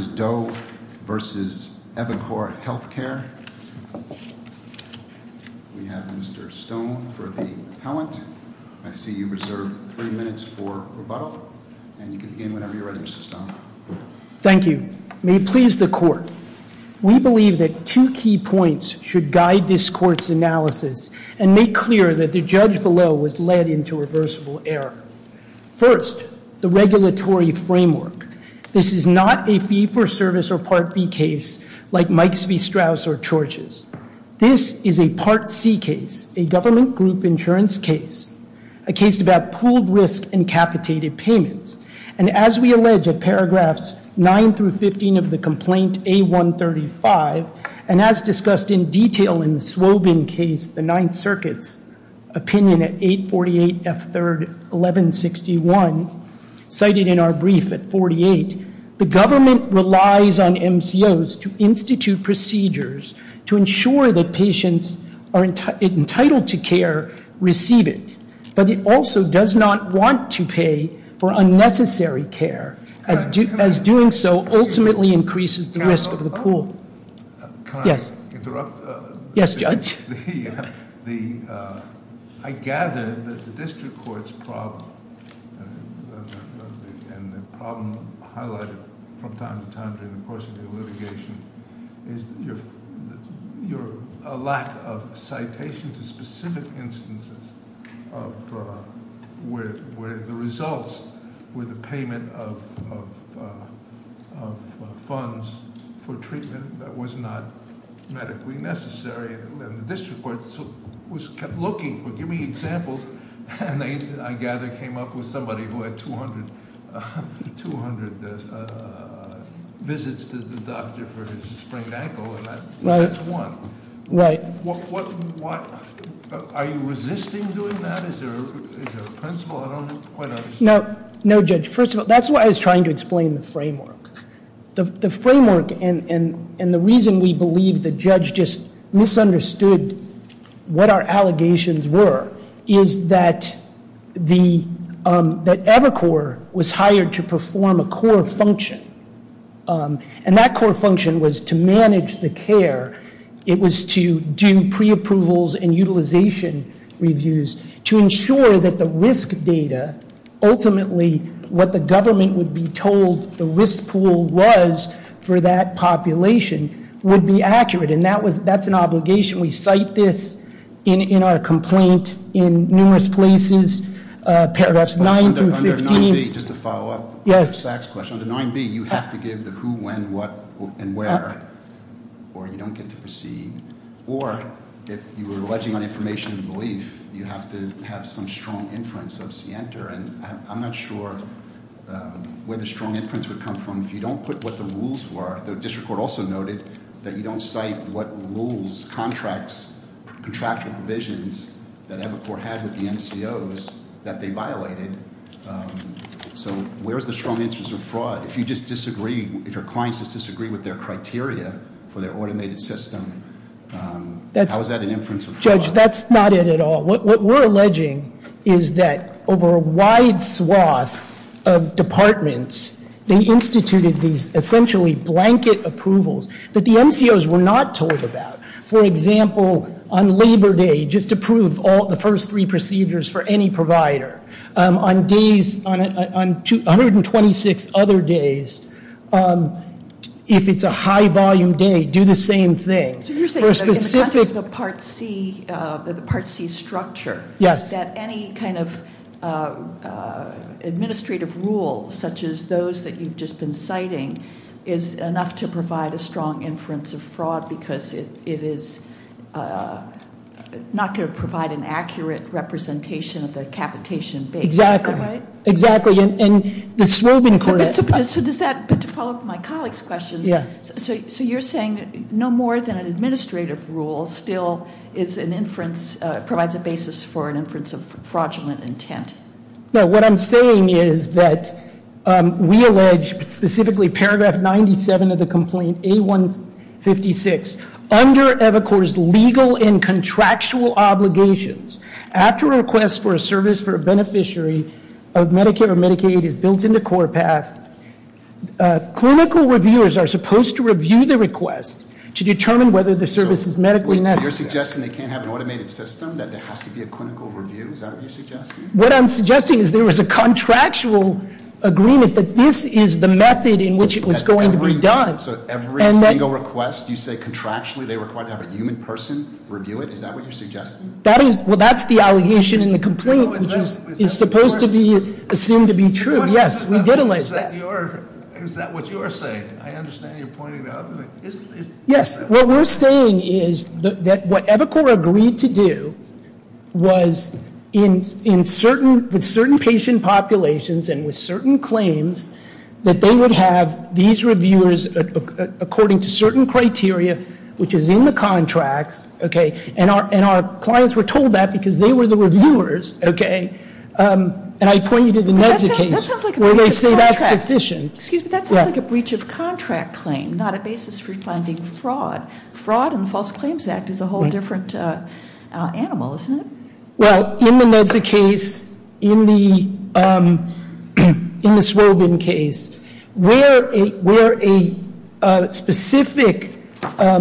Ms. Doe v. Evicore Healthcare, we have Mr. Stone for the appellant. I see you reserved three minutes for rebuttal, and you can begin whenever you're ready, Mr. Stone. Thank you. May it please the court. We believe that two key points should guide this court's analysis and make clear that the judge below was led into reversible error. First, the regulatory framework. This is not a fee for service or Part B case like Mike's v. Strauss or Chorch's. This is a Part C case, a government group insurance case. A case about pooled risk and capitated payments. And as we allege at paragraphs 9 through 15 of the complaint A135, and as discussed in detail in the Swobin case, the Ninth Circuit's opinion at 848 F3, 1161. Cited in our brief at 48, the government relies on MCOs to institute procedures to ensure that patients are entitled to care receive it. But it also does not want to pay for unnecessary care, as doing so ultimately increases the risk of the pool. Yes. Yes, Judge. I gather that the district court's problem, and the problem highlighted from time to time during the course of your litigation, is your lack of citations of specific instances of where the results were the payment of funds for the district court was looking for, give me examples. And I gather came up with somebody who had 200 visits to the doctor for his sprained ankle. That's one. Right. What, are you resisting doing that? Is there a principle? I don't quite understand. No, Judge. First of all, that's what I was trying to explain the framework. The framework and the reason we believe the judge just misunderstood what our allegations were is that Evercore was hired to perform a core function. And that core function was to manage the care. It was to do pre-approvals and utilization reviews to ensure that the risk data, ultimately what the government would be told the risk pool was for that population would be accurate, and that's an obligation. We cite this in our complaint in numerous places, paragraphs nine through 15. Under 9B, just to follow up on the Saxe question, under 9B, you have to give the who, when, what, and where, or you don't get to proceed. Or, if you were alleging on information and belief, you have to have some strong inference of CNTR. And I'm not sure where the strong inference would come from if you don't put what the rules were. The district court also noted that you don't cite what rules, contracts, contractual provisions that Evercore had with the NCOs that they violated. So where's the strong interest of fraud? If you just disagree, if your clients just disagree with their criteria for their automated system, how is that an inference of fraud? Judge, that's not it at all. What we're alleging is that over a wide swath of departments, they instituted these essentially blanket approvals that the NCOs were not told about. For example, on Labor Day, just to prove the first three procedures for any provider, on 126 other days, if it's a high volume day, do the same thing. So you're saying that in the context of the Part C structure. Yes. That any kind of administrative rule, such as those that you've just been citing, is enough to provide a strong inference of fraud. Because it is not going to provide an accurate representation of the capitation basis, is that right? Exactly, and the swarming court- But to follow up my colleague's question, so you're saying no more than an administrative rule still is an inference, provides a basis for an inference of fraudulent intent. No, what I'm saying is that we allege specifically paragraph 97 of the complaint, A156, under EvoCorp's legal and contractual obligations. After a request for a service for a beneficiary of Medicare or Medicaid is built into core path, clinical reviewers are supposed to review the request to determine whether the service is medically necessary. So you're suggesting they can't have an automated system, that there has to be a clinical review, is that what you're suggesting? What I'm suggesting is there was a contractual agreement that this is the method in which it was going to be done. So every single request you say contractually they require to have a human person review it, is that what you're suggesting? That is, well that's the allegation in the complaint, which is supposed to be assumed to be true. Yes, we did allege that. Is that what you're saying? I understand you're pointing it out. Yes, what we're saying is that what EvoCorp agreed to do was with certain patient populations and with certain claims, that they would have these reviewers according to certain criteria, which is in the contracts, okay? And our clients were told that because they were the reviewers, okay? And I point you to the NEDSA case where they say that's sufficient. Excuse me, that sounds like a breach of contract claim, not a basis for finding fraud. Fraud in the False Claims Act is a whole different animal, isn't it? Well, in the NEDSA case, in the Swobin case, where a specific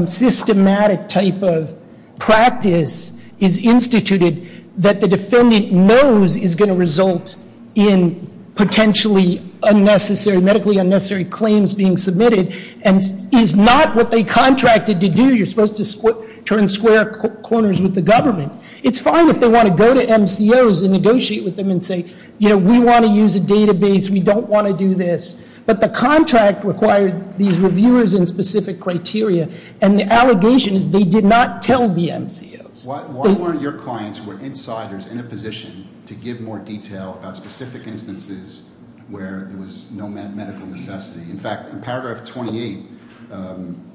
systematic type of practice is instituted that the defendant knows is going to result in potentially medically unnecessary claims being submitted, and is not what they contracted to do, you're supposed to turn square corners with the government. It's fine if they want to go to MCOs and negotiate with them and say, we want to use a database, we don't want to do this. But the contract required these reviewers in specific criteria, and the allegation is they did not tell the MCOs. Why weren't your clients, were insiders in a position to give more detail about specific instances where there was no medical necessity? In fact, in paragraph 28,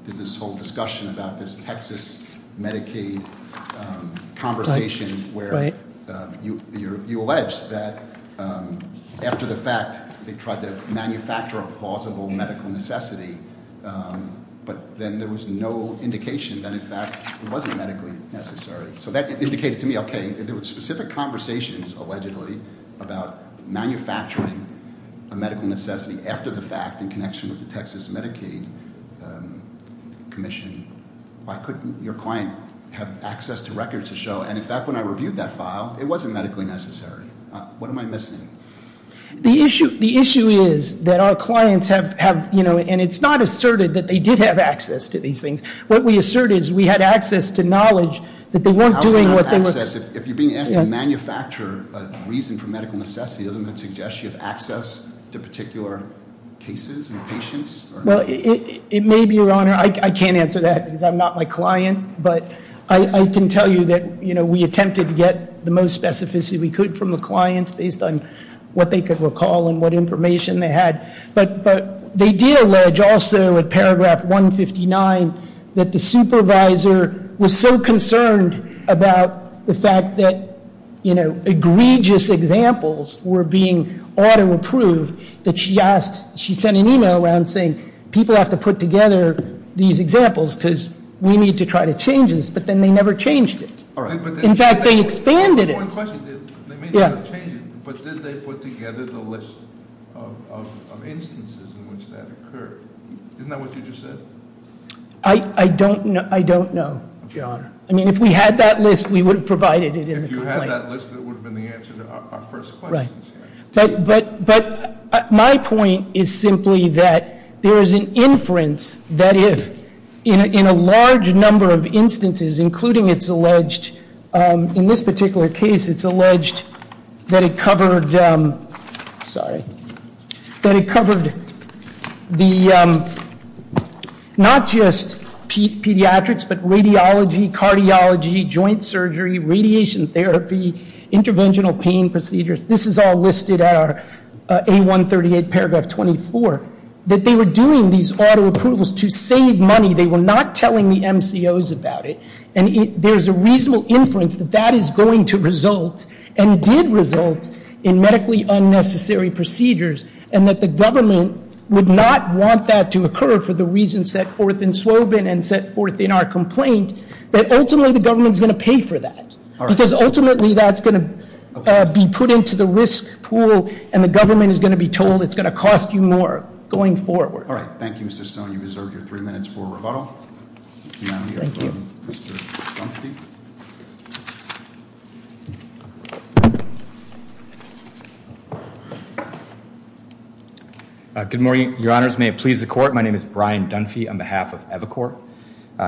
there's this whole discussion about this Texas Medicaid conversation where you allege that after the fact, they tried to manufacture a plausible medical necessity, but then there was no indication that, in fact, it wasn't medically necessary. So that indicated to me, okay, there were specific conversations, allegedly, about manufacturing a medical necessity after the fact, in connection with the Texas Medicaid commission. Why couldn't your client have access to records to show, and in fact, when I reviewed that file, it wasn't medically necessary. What am I missing? The issue is that our clients have, and it's not asserted that they did have access to these things. What we assert is we had access to knowledge that they weren't doing what they were- It says if you're being asked to manufacture a reason for medical necessity, doesn't it suggest you have access to particular cases and patients? Well, it may be your honor, I can't answer that because I'm not my client, but I can tell you that we attempted to get the most specificity we could from the clients based on what they could recall and what information they had. But they did allege also in paragraph 159 that the supervisor was so concerned about the fact that egregious examples were being auto approved. That she asked, she sent an email around saying, people have to put together these examples because we need to try to change this. But then they never changed it. In fact, they expanded it. Yeah. But did they put together the list of instances in which that occurred? Isn't that what you just said? I don't know. Your honor. I mean, if we had that list, we would have provided it in the complaint. If you had that list, it would have been the answer to our first question. Right. But my point is simply that there is an inference that if, in a large number of instances, including it's alleged, in this particular case, it's alleged that it covered, sorry, that it covered the not just pediatrics, but radiology, cardiology, joint surgery, radiation therapy, interventional pain procedures. This is all listed at our A138 paragraph 24, that they were doing these auto approvals to save money. They were not telling the MCOs about it. And there's a reasonable inference that that is going to result, and it did result, in medically unnecessary procedures. And that the government would not want that to occur for the reasons set forth in Swobin and set forth in our complaint, that ultimately the government's going to pay for that. Because ultimately that's going to be put into the risk pool, and the government is going to be told it's going to cost you more going forward. All right. Thank you, Mr. Stone. You deserve your three minutes for rebuttal. Thank you. Mr. Dunphy. Good morning, your honors. May it please the court. My name is Brian Dunphy on behalf of Evacor.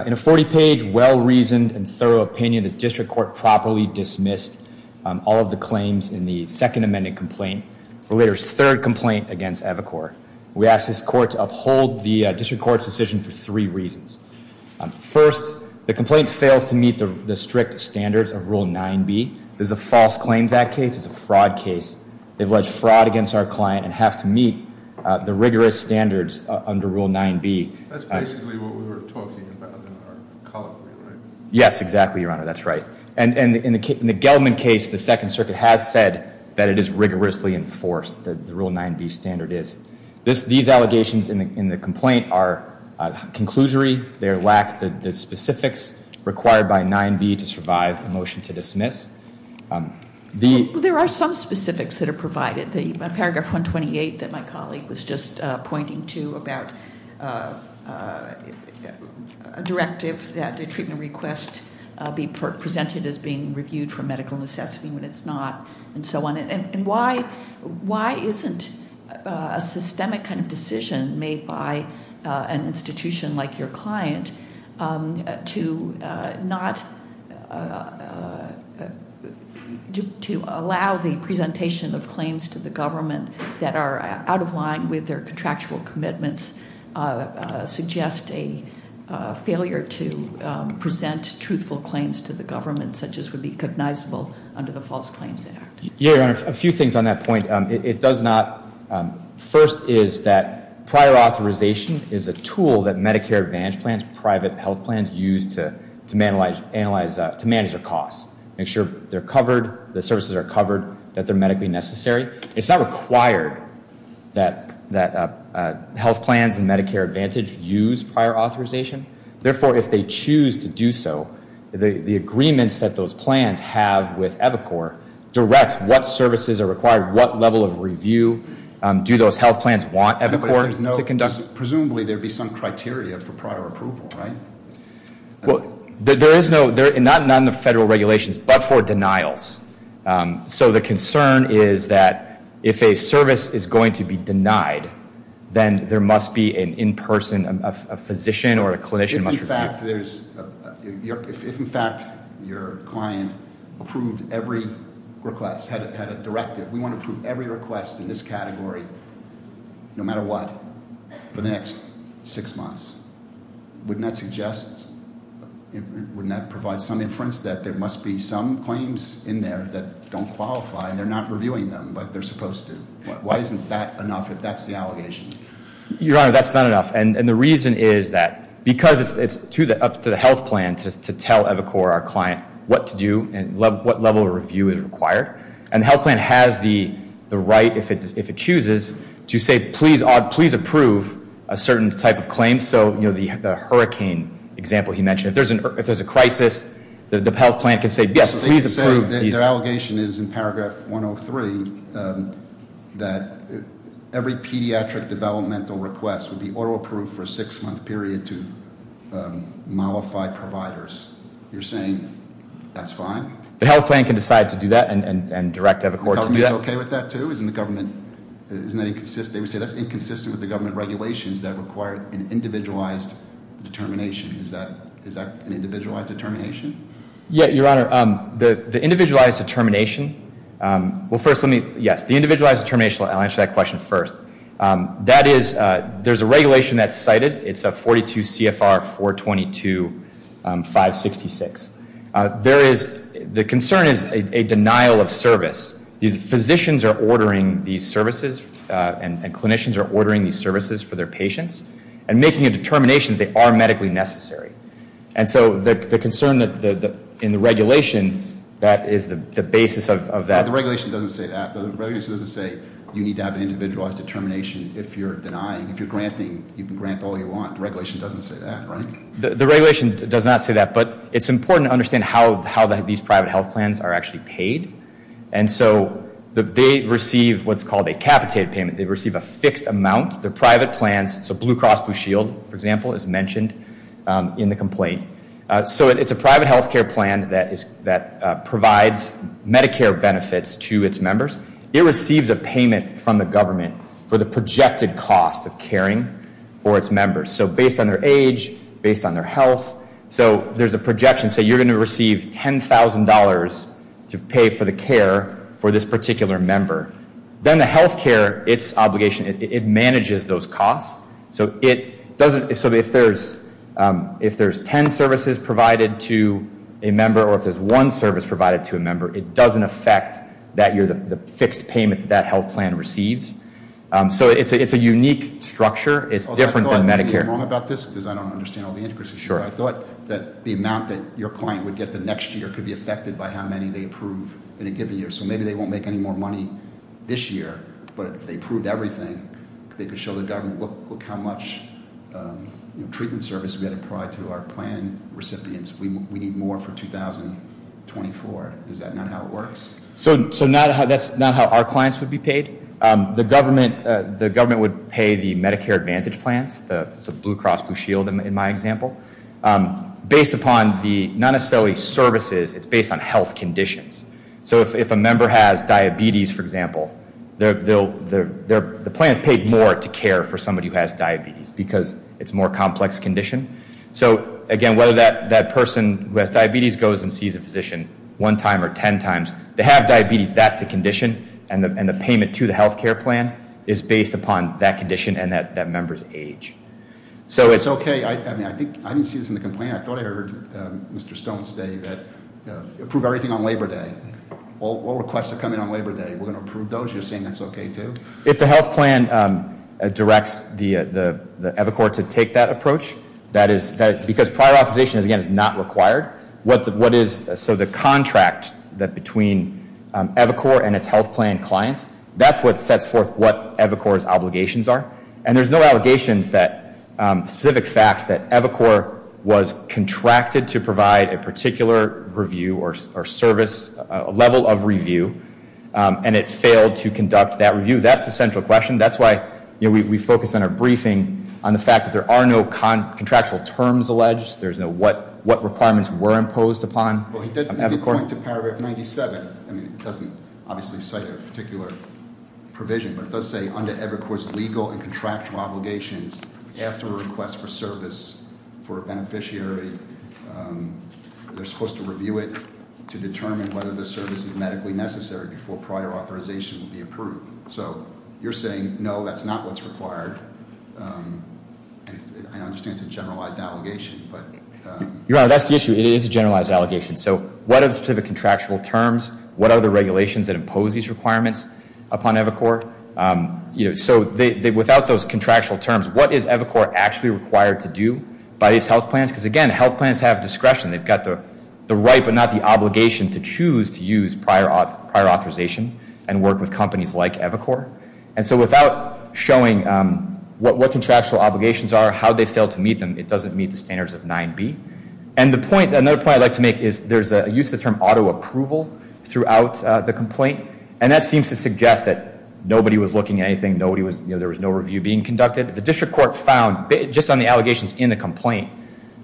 In a 40 page well reasoned and thorough opinion, the district court properly dismissed all of the claims in the second amended complaint, or later's third complaint against Evacor. We ask this court to uphold the district court's decision for three reasons. First, the complaint fails to meet the strict standards of rule 9B. This is a false claims act case, it's a fraud case. They've alleged fraud against our client and have to meet the rigorous standards under rule 9B. That's basically what we were talking about in our column, right? Yes, exactly, your honor, that's right. And in the Gelman case, the second circuit has said that it is rigorously enforced, that the rule 9B standard is. These allegations in the complaint are conclusory. They lack the specifics required by 9B to survive the motion to dismiss. The- There are some specifics that are provided. The paragraph 128 that my colleague was just pointing to about a directive that the treatment request be presented as being reviewed for medical necessity when it's not, and so on. And why isn't a systemic kind of decision made by an institution like your client to not, to allow the presentation of claims to the government that are out of line with their contractual commitments, suggest a failure to present truthful claims to the government, such as would be cognizable under the False Claims Act? Yeah, your honor, a few things on that point. It does not, first is that prior authorization is a tool that Medicare Advantage plans, private health plans use to manage their costs, make sure they're covered, the services are covered, that they're medically necessary. It's not required that health plans and Medicare Advantage use prior authorization. Therefore, if they choose to do so, the agreements that those plans have with Evacor directs what services are required, what level of review do those health plans want Evacor to conduct? Presumably there'd be some criteria for prior approval, right? Well, there is no, not in the federal regulations, but for denials. So the concern is that if a service is going to be denied, then there must be an in-person, a physician or a clinician must review. If in fact there's, if in fact your client approved every request, had a directive, we want to approve every request in this category, no matter what, for the next six months. Wouldn't that suggest, wouldn't that provide some inference that there must be some claims in there that don't qualify, and they're not reviewing them like they're supposed to? Why isn't that enough if that's the allegation? Your Honor, that's not enough. And the reason is that, because it's up to the health plan to tell Evacor, our client, what to do and what level of review is required. And the health plan has the right, if it chooses, to say, please approve a certain type of claim. So the hurricane example he mentioned, if there's a crisis, the health plan can say, yes, please approve. You're saying that their allegation is in paragraph 103, that every pediatric developmental request would be auto-approved for a six month period to mollified providers. You're saying that's fine? The health plan can decide to do that and direct Evacor to do that. The government's okay with that too? Isn't the government, isn't that inconsistent? They would say that's inconsistent with the government regulations that require an individualized determination. Is that an individualized determination? Yeah, Your Honor, the individualized determination, well, first let me, yes. The individualized determination, I'll answer that question first. That is, there's a regulation that's cited, it's a 42 CFR 422-566. There is, the concern is a denial of service. These physicians are ordering these services and clinicians are ordering these services for their patients and making a determination that they are medically necessary. And so, the concern in the regulation, that is the basis of that. The regulation doesn't say that. The regulation doesn't say you need to have an individualized determination if you're denying. If you're granting, you can grant all you want. The regulation doesn't say that, right? The regulation does not say that, but it's important to understand how these private health plans are actually paid. And so, they receive what's called a capitated payment. They receive a fixed amount. They're private plans, so Blue Cross Blue Shield, for example, is mentioned in the complaint. So, it's a private health care plan that provides Medicare benefits to its members. It receives a payment from the government for the projected cost of caring for its members. So, based on their age, based on their health. So, there's a projection, say you're going to receive $10,000 to pay for the care for this particular member. Then the health care, its obligation, it manages those costs. So, if there's ten services provided to a member or if there's one service provided to a member, it doesn't affect the fixed payment that that health plan receives. So, it's a unique structure. It's different than Medicare. I think you're wrong about this, because I don't understand all the intricacies. Sure. I thought that the amount that your client would get the next year could be affected by how many they approve in a given year. So, maybe they won't make any more money this year, but if they approved everything, they could show the government, look how much treatment service we had to provide to our plan recipients. We need more for 2024, is that not how it works? The government would pay the Medicare Advantage plans, it's a Blue Cross Blue Shield in my example. Based upon the, not necessarily services, it's based on health conditions. So, if a member has diabetes, for example, the plan is paid more to care for somebody who has diabetes because it's a more complex condition. So, again, whether that person who has diabetes goes and sees a physician one time or ten times. They have diabetes, that's the condition, and the payment to the health care plan is based upon that condition and that member's age. So, it's- It's okay, I didn't see this in the complaint, I thought I heard Mr. Stone say that approve everything on Labor Day. All requests that come in on Labor Day, we're going to approve those, you're saying that's okay, too? If the health plan directs the other court to take that approach, that is, because prior authorization, again, is not required. What is, so the contract that between Evacor and its health plan clients, that's what sets forth what Evacor's obligations are. And there's no allegations that, specific facts that Evacor was contracted to provide a particular review or service, a level of review, and it failed to conduct that review. That's the central question. That's why we focus on our briefing on the fact that there are no contractual terms alleged. There's no what requirements were imposed upon Evacor. Well, he did make a point to paragraph 97. I mean, it doesn't obviously cite a particular provision, but it does say under Evacor's legal and contractual obligations, after a request for service for a beneficiary, they're supposed to review it to determine whether the service is medically necessary before prior authorization would be approved. So, you're saying, no, that's not what's required. I understand it's a generalized allegation, but- You're right, that's the issue. It is a generalized allegation. So, what are the specific contractual terms? What are the regulations that impose these requirements upon Evacor? So, without those contractual terms, what is Evacor actually required to do by these health plans? because again, health plans have discretion. They've got the right, but not the obligation to choose to use prior authorization and work with companies like Evacor. And so, without showing what contractual obligations are, how they fail to meet them, it doesn't meet the standards of 9B. And another point I'd like to make is there's a use of the term auto approval throughout the complaint. And that seems to suggest that nobody was looking at anything, there was no review being conducted. The district court found, just on the allegations in the complaint,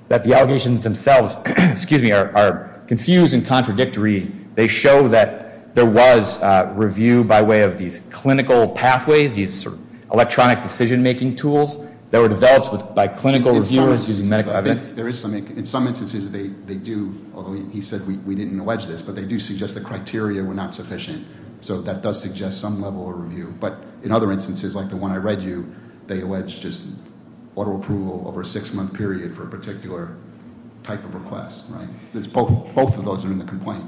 that the allegations themselves, excuse me, are confused and contradictory. They show that there was review by way of these clinical pathways, these electronic decision making tools that were developed by clinical reviewers using medical evidence. There is some, in some instances they do, although he said we didn't allege this, but they do suggest the criteria were not sufficient. So that does suggest some level of review, but in other instances, like the one I read you, they allege just auto approval over a six month period for a particular type of request, right? Because both of those are in the complaint.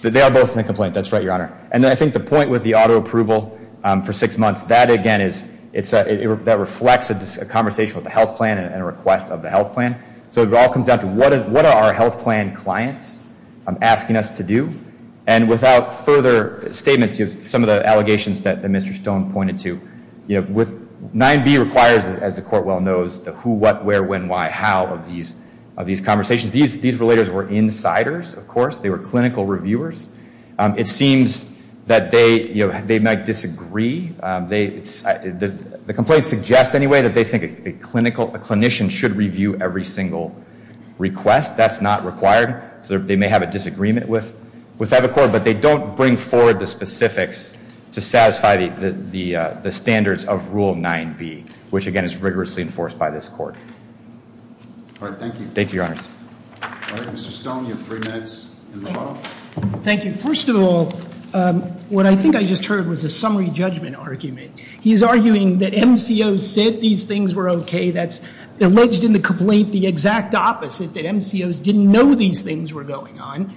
They are both in the complaint, that's right, your honor. And I think the point with the auto approval for six months, that again is, that reflects a conversation with the health plan and a request of the health plan. So it all comes down to what are our health plan clients asking us to do? And without further statements, some of the allegations that Mr. Stone pointed to, with 9B requires, as the court well knows, the who, what, where, when, why, how of these conversations. These relators were insiders, of course. They were clinical reviewers. It seems that they might disagree. The complaint suggests anyway that they think a clinician should review every single request. That's not required. So they may have a disagreement with that accord. But they don't bring forward the specifics to satisfy the standards of Rule 9B, which again is rigorously enforced by this court. All right, thank you. Thank you, your honors. All right, Mr. Stone, you have three minutes in the bottom. Thank you. First of all, what I think I just heard was a summary judgment argument. He's arguing that MCOs said these things were okay. That's alleged in the complaint the exact opposite, that MCOs didn't know these things were going on.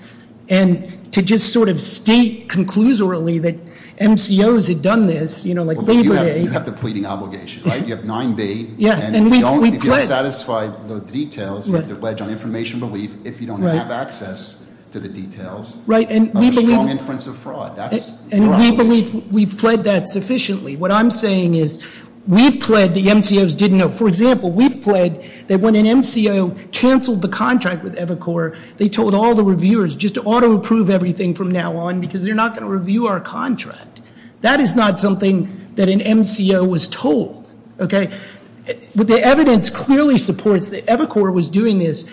And to just sort of state conclusorily that MCOs had done this, you know, like Labor Day. You have the pleading obligation, right? You have 9B. And if you don't satisfy the details, you have to pledge on information belief if you don't have access to the details. Right, and we believe- Of a strong inference of fraud. That's wrong. And we believe we've pledged that sufficiently. What I'm saying is, we've pledged the MCOs didn't know. For example, we've pledged that when an MCO canceled the contract with Evercore, they told all the reviewers just to auto approve everything from now on because they're not going to review our contract. That is not something that an MCO was told, okay? But the evidence clearly supports that Evercore was doing this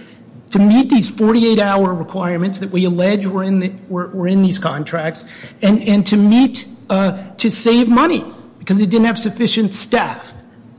to meet these 48-hour requirements that we allege were in these contracts. And to meet, to save money, because they didn't have sufficient staff.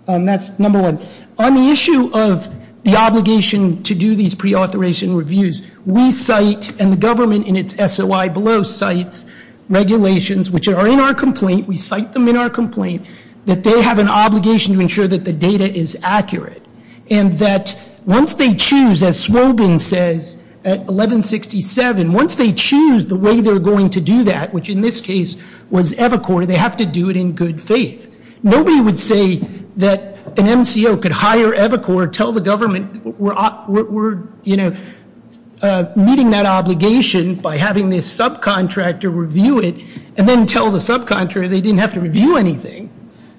And that's number one. On the issue of the obligation to do these pre-authorization reviews, we cite, and the government in its SOI below cites regulations, which are in our complaint. We cite them in our complaint, that they have an obligation to ensure that the data is accurate. And that once they choose, as Swobin says at 1167, once they choose the way they're going to do that, which in this case was Evercore, they have to do it in good faith. Nobody would say that an MCO could hire Evercore, tell the government, we're meeting that obligation by having this subcontractor review it, and then tell the subcontractor they didn't have to review anything.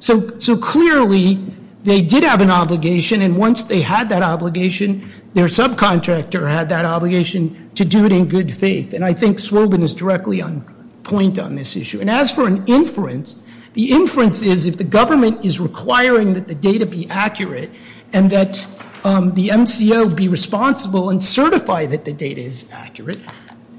So clearly, they did have an obligation, and once they had that obligation, their subcontractor had that obligation to do it in good faith. And I think Swobin is directly on point on this issue. And as for an inference, the inference is if the government is requiring that the data be accurate, and that the MCO be responsible and certify that the data is accurate,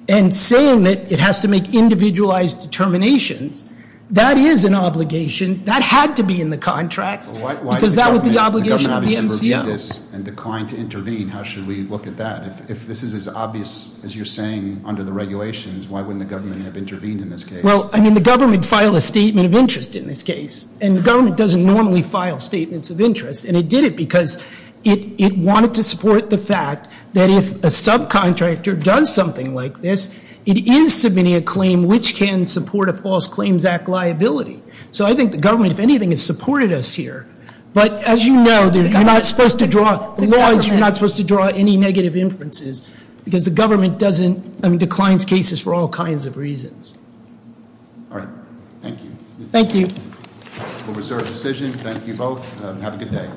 and saying that it has to make individualized determinations, that is an obligation. That had to be in the contracts, because that would be the obligation of the MCO. The government obviously reviewed this and declined to intervene. How should we look at that? If this is as obvious as you're saying under the regulations, why wouldn't the government have intervened in this case? Well, I mean, the government filed a statement of interest in this case. And the government doesn't normally file statements of interest. And it did it because it wanted to support the fact that if a subcontractor does something like this, it is submitting a claim which can support a False Claims Act liability. So I think the government, if anything, has supported us here. But as you know, you're not supposed to draw, the law is you're not supposed to draw any negative inferences. Because the government doesn't, I mean, declines cases for all kinds of reasons. All right, thank you. Thank you. We'll reserve the decision. Thank you both. Have a good day.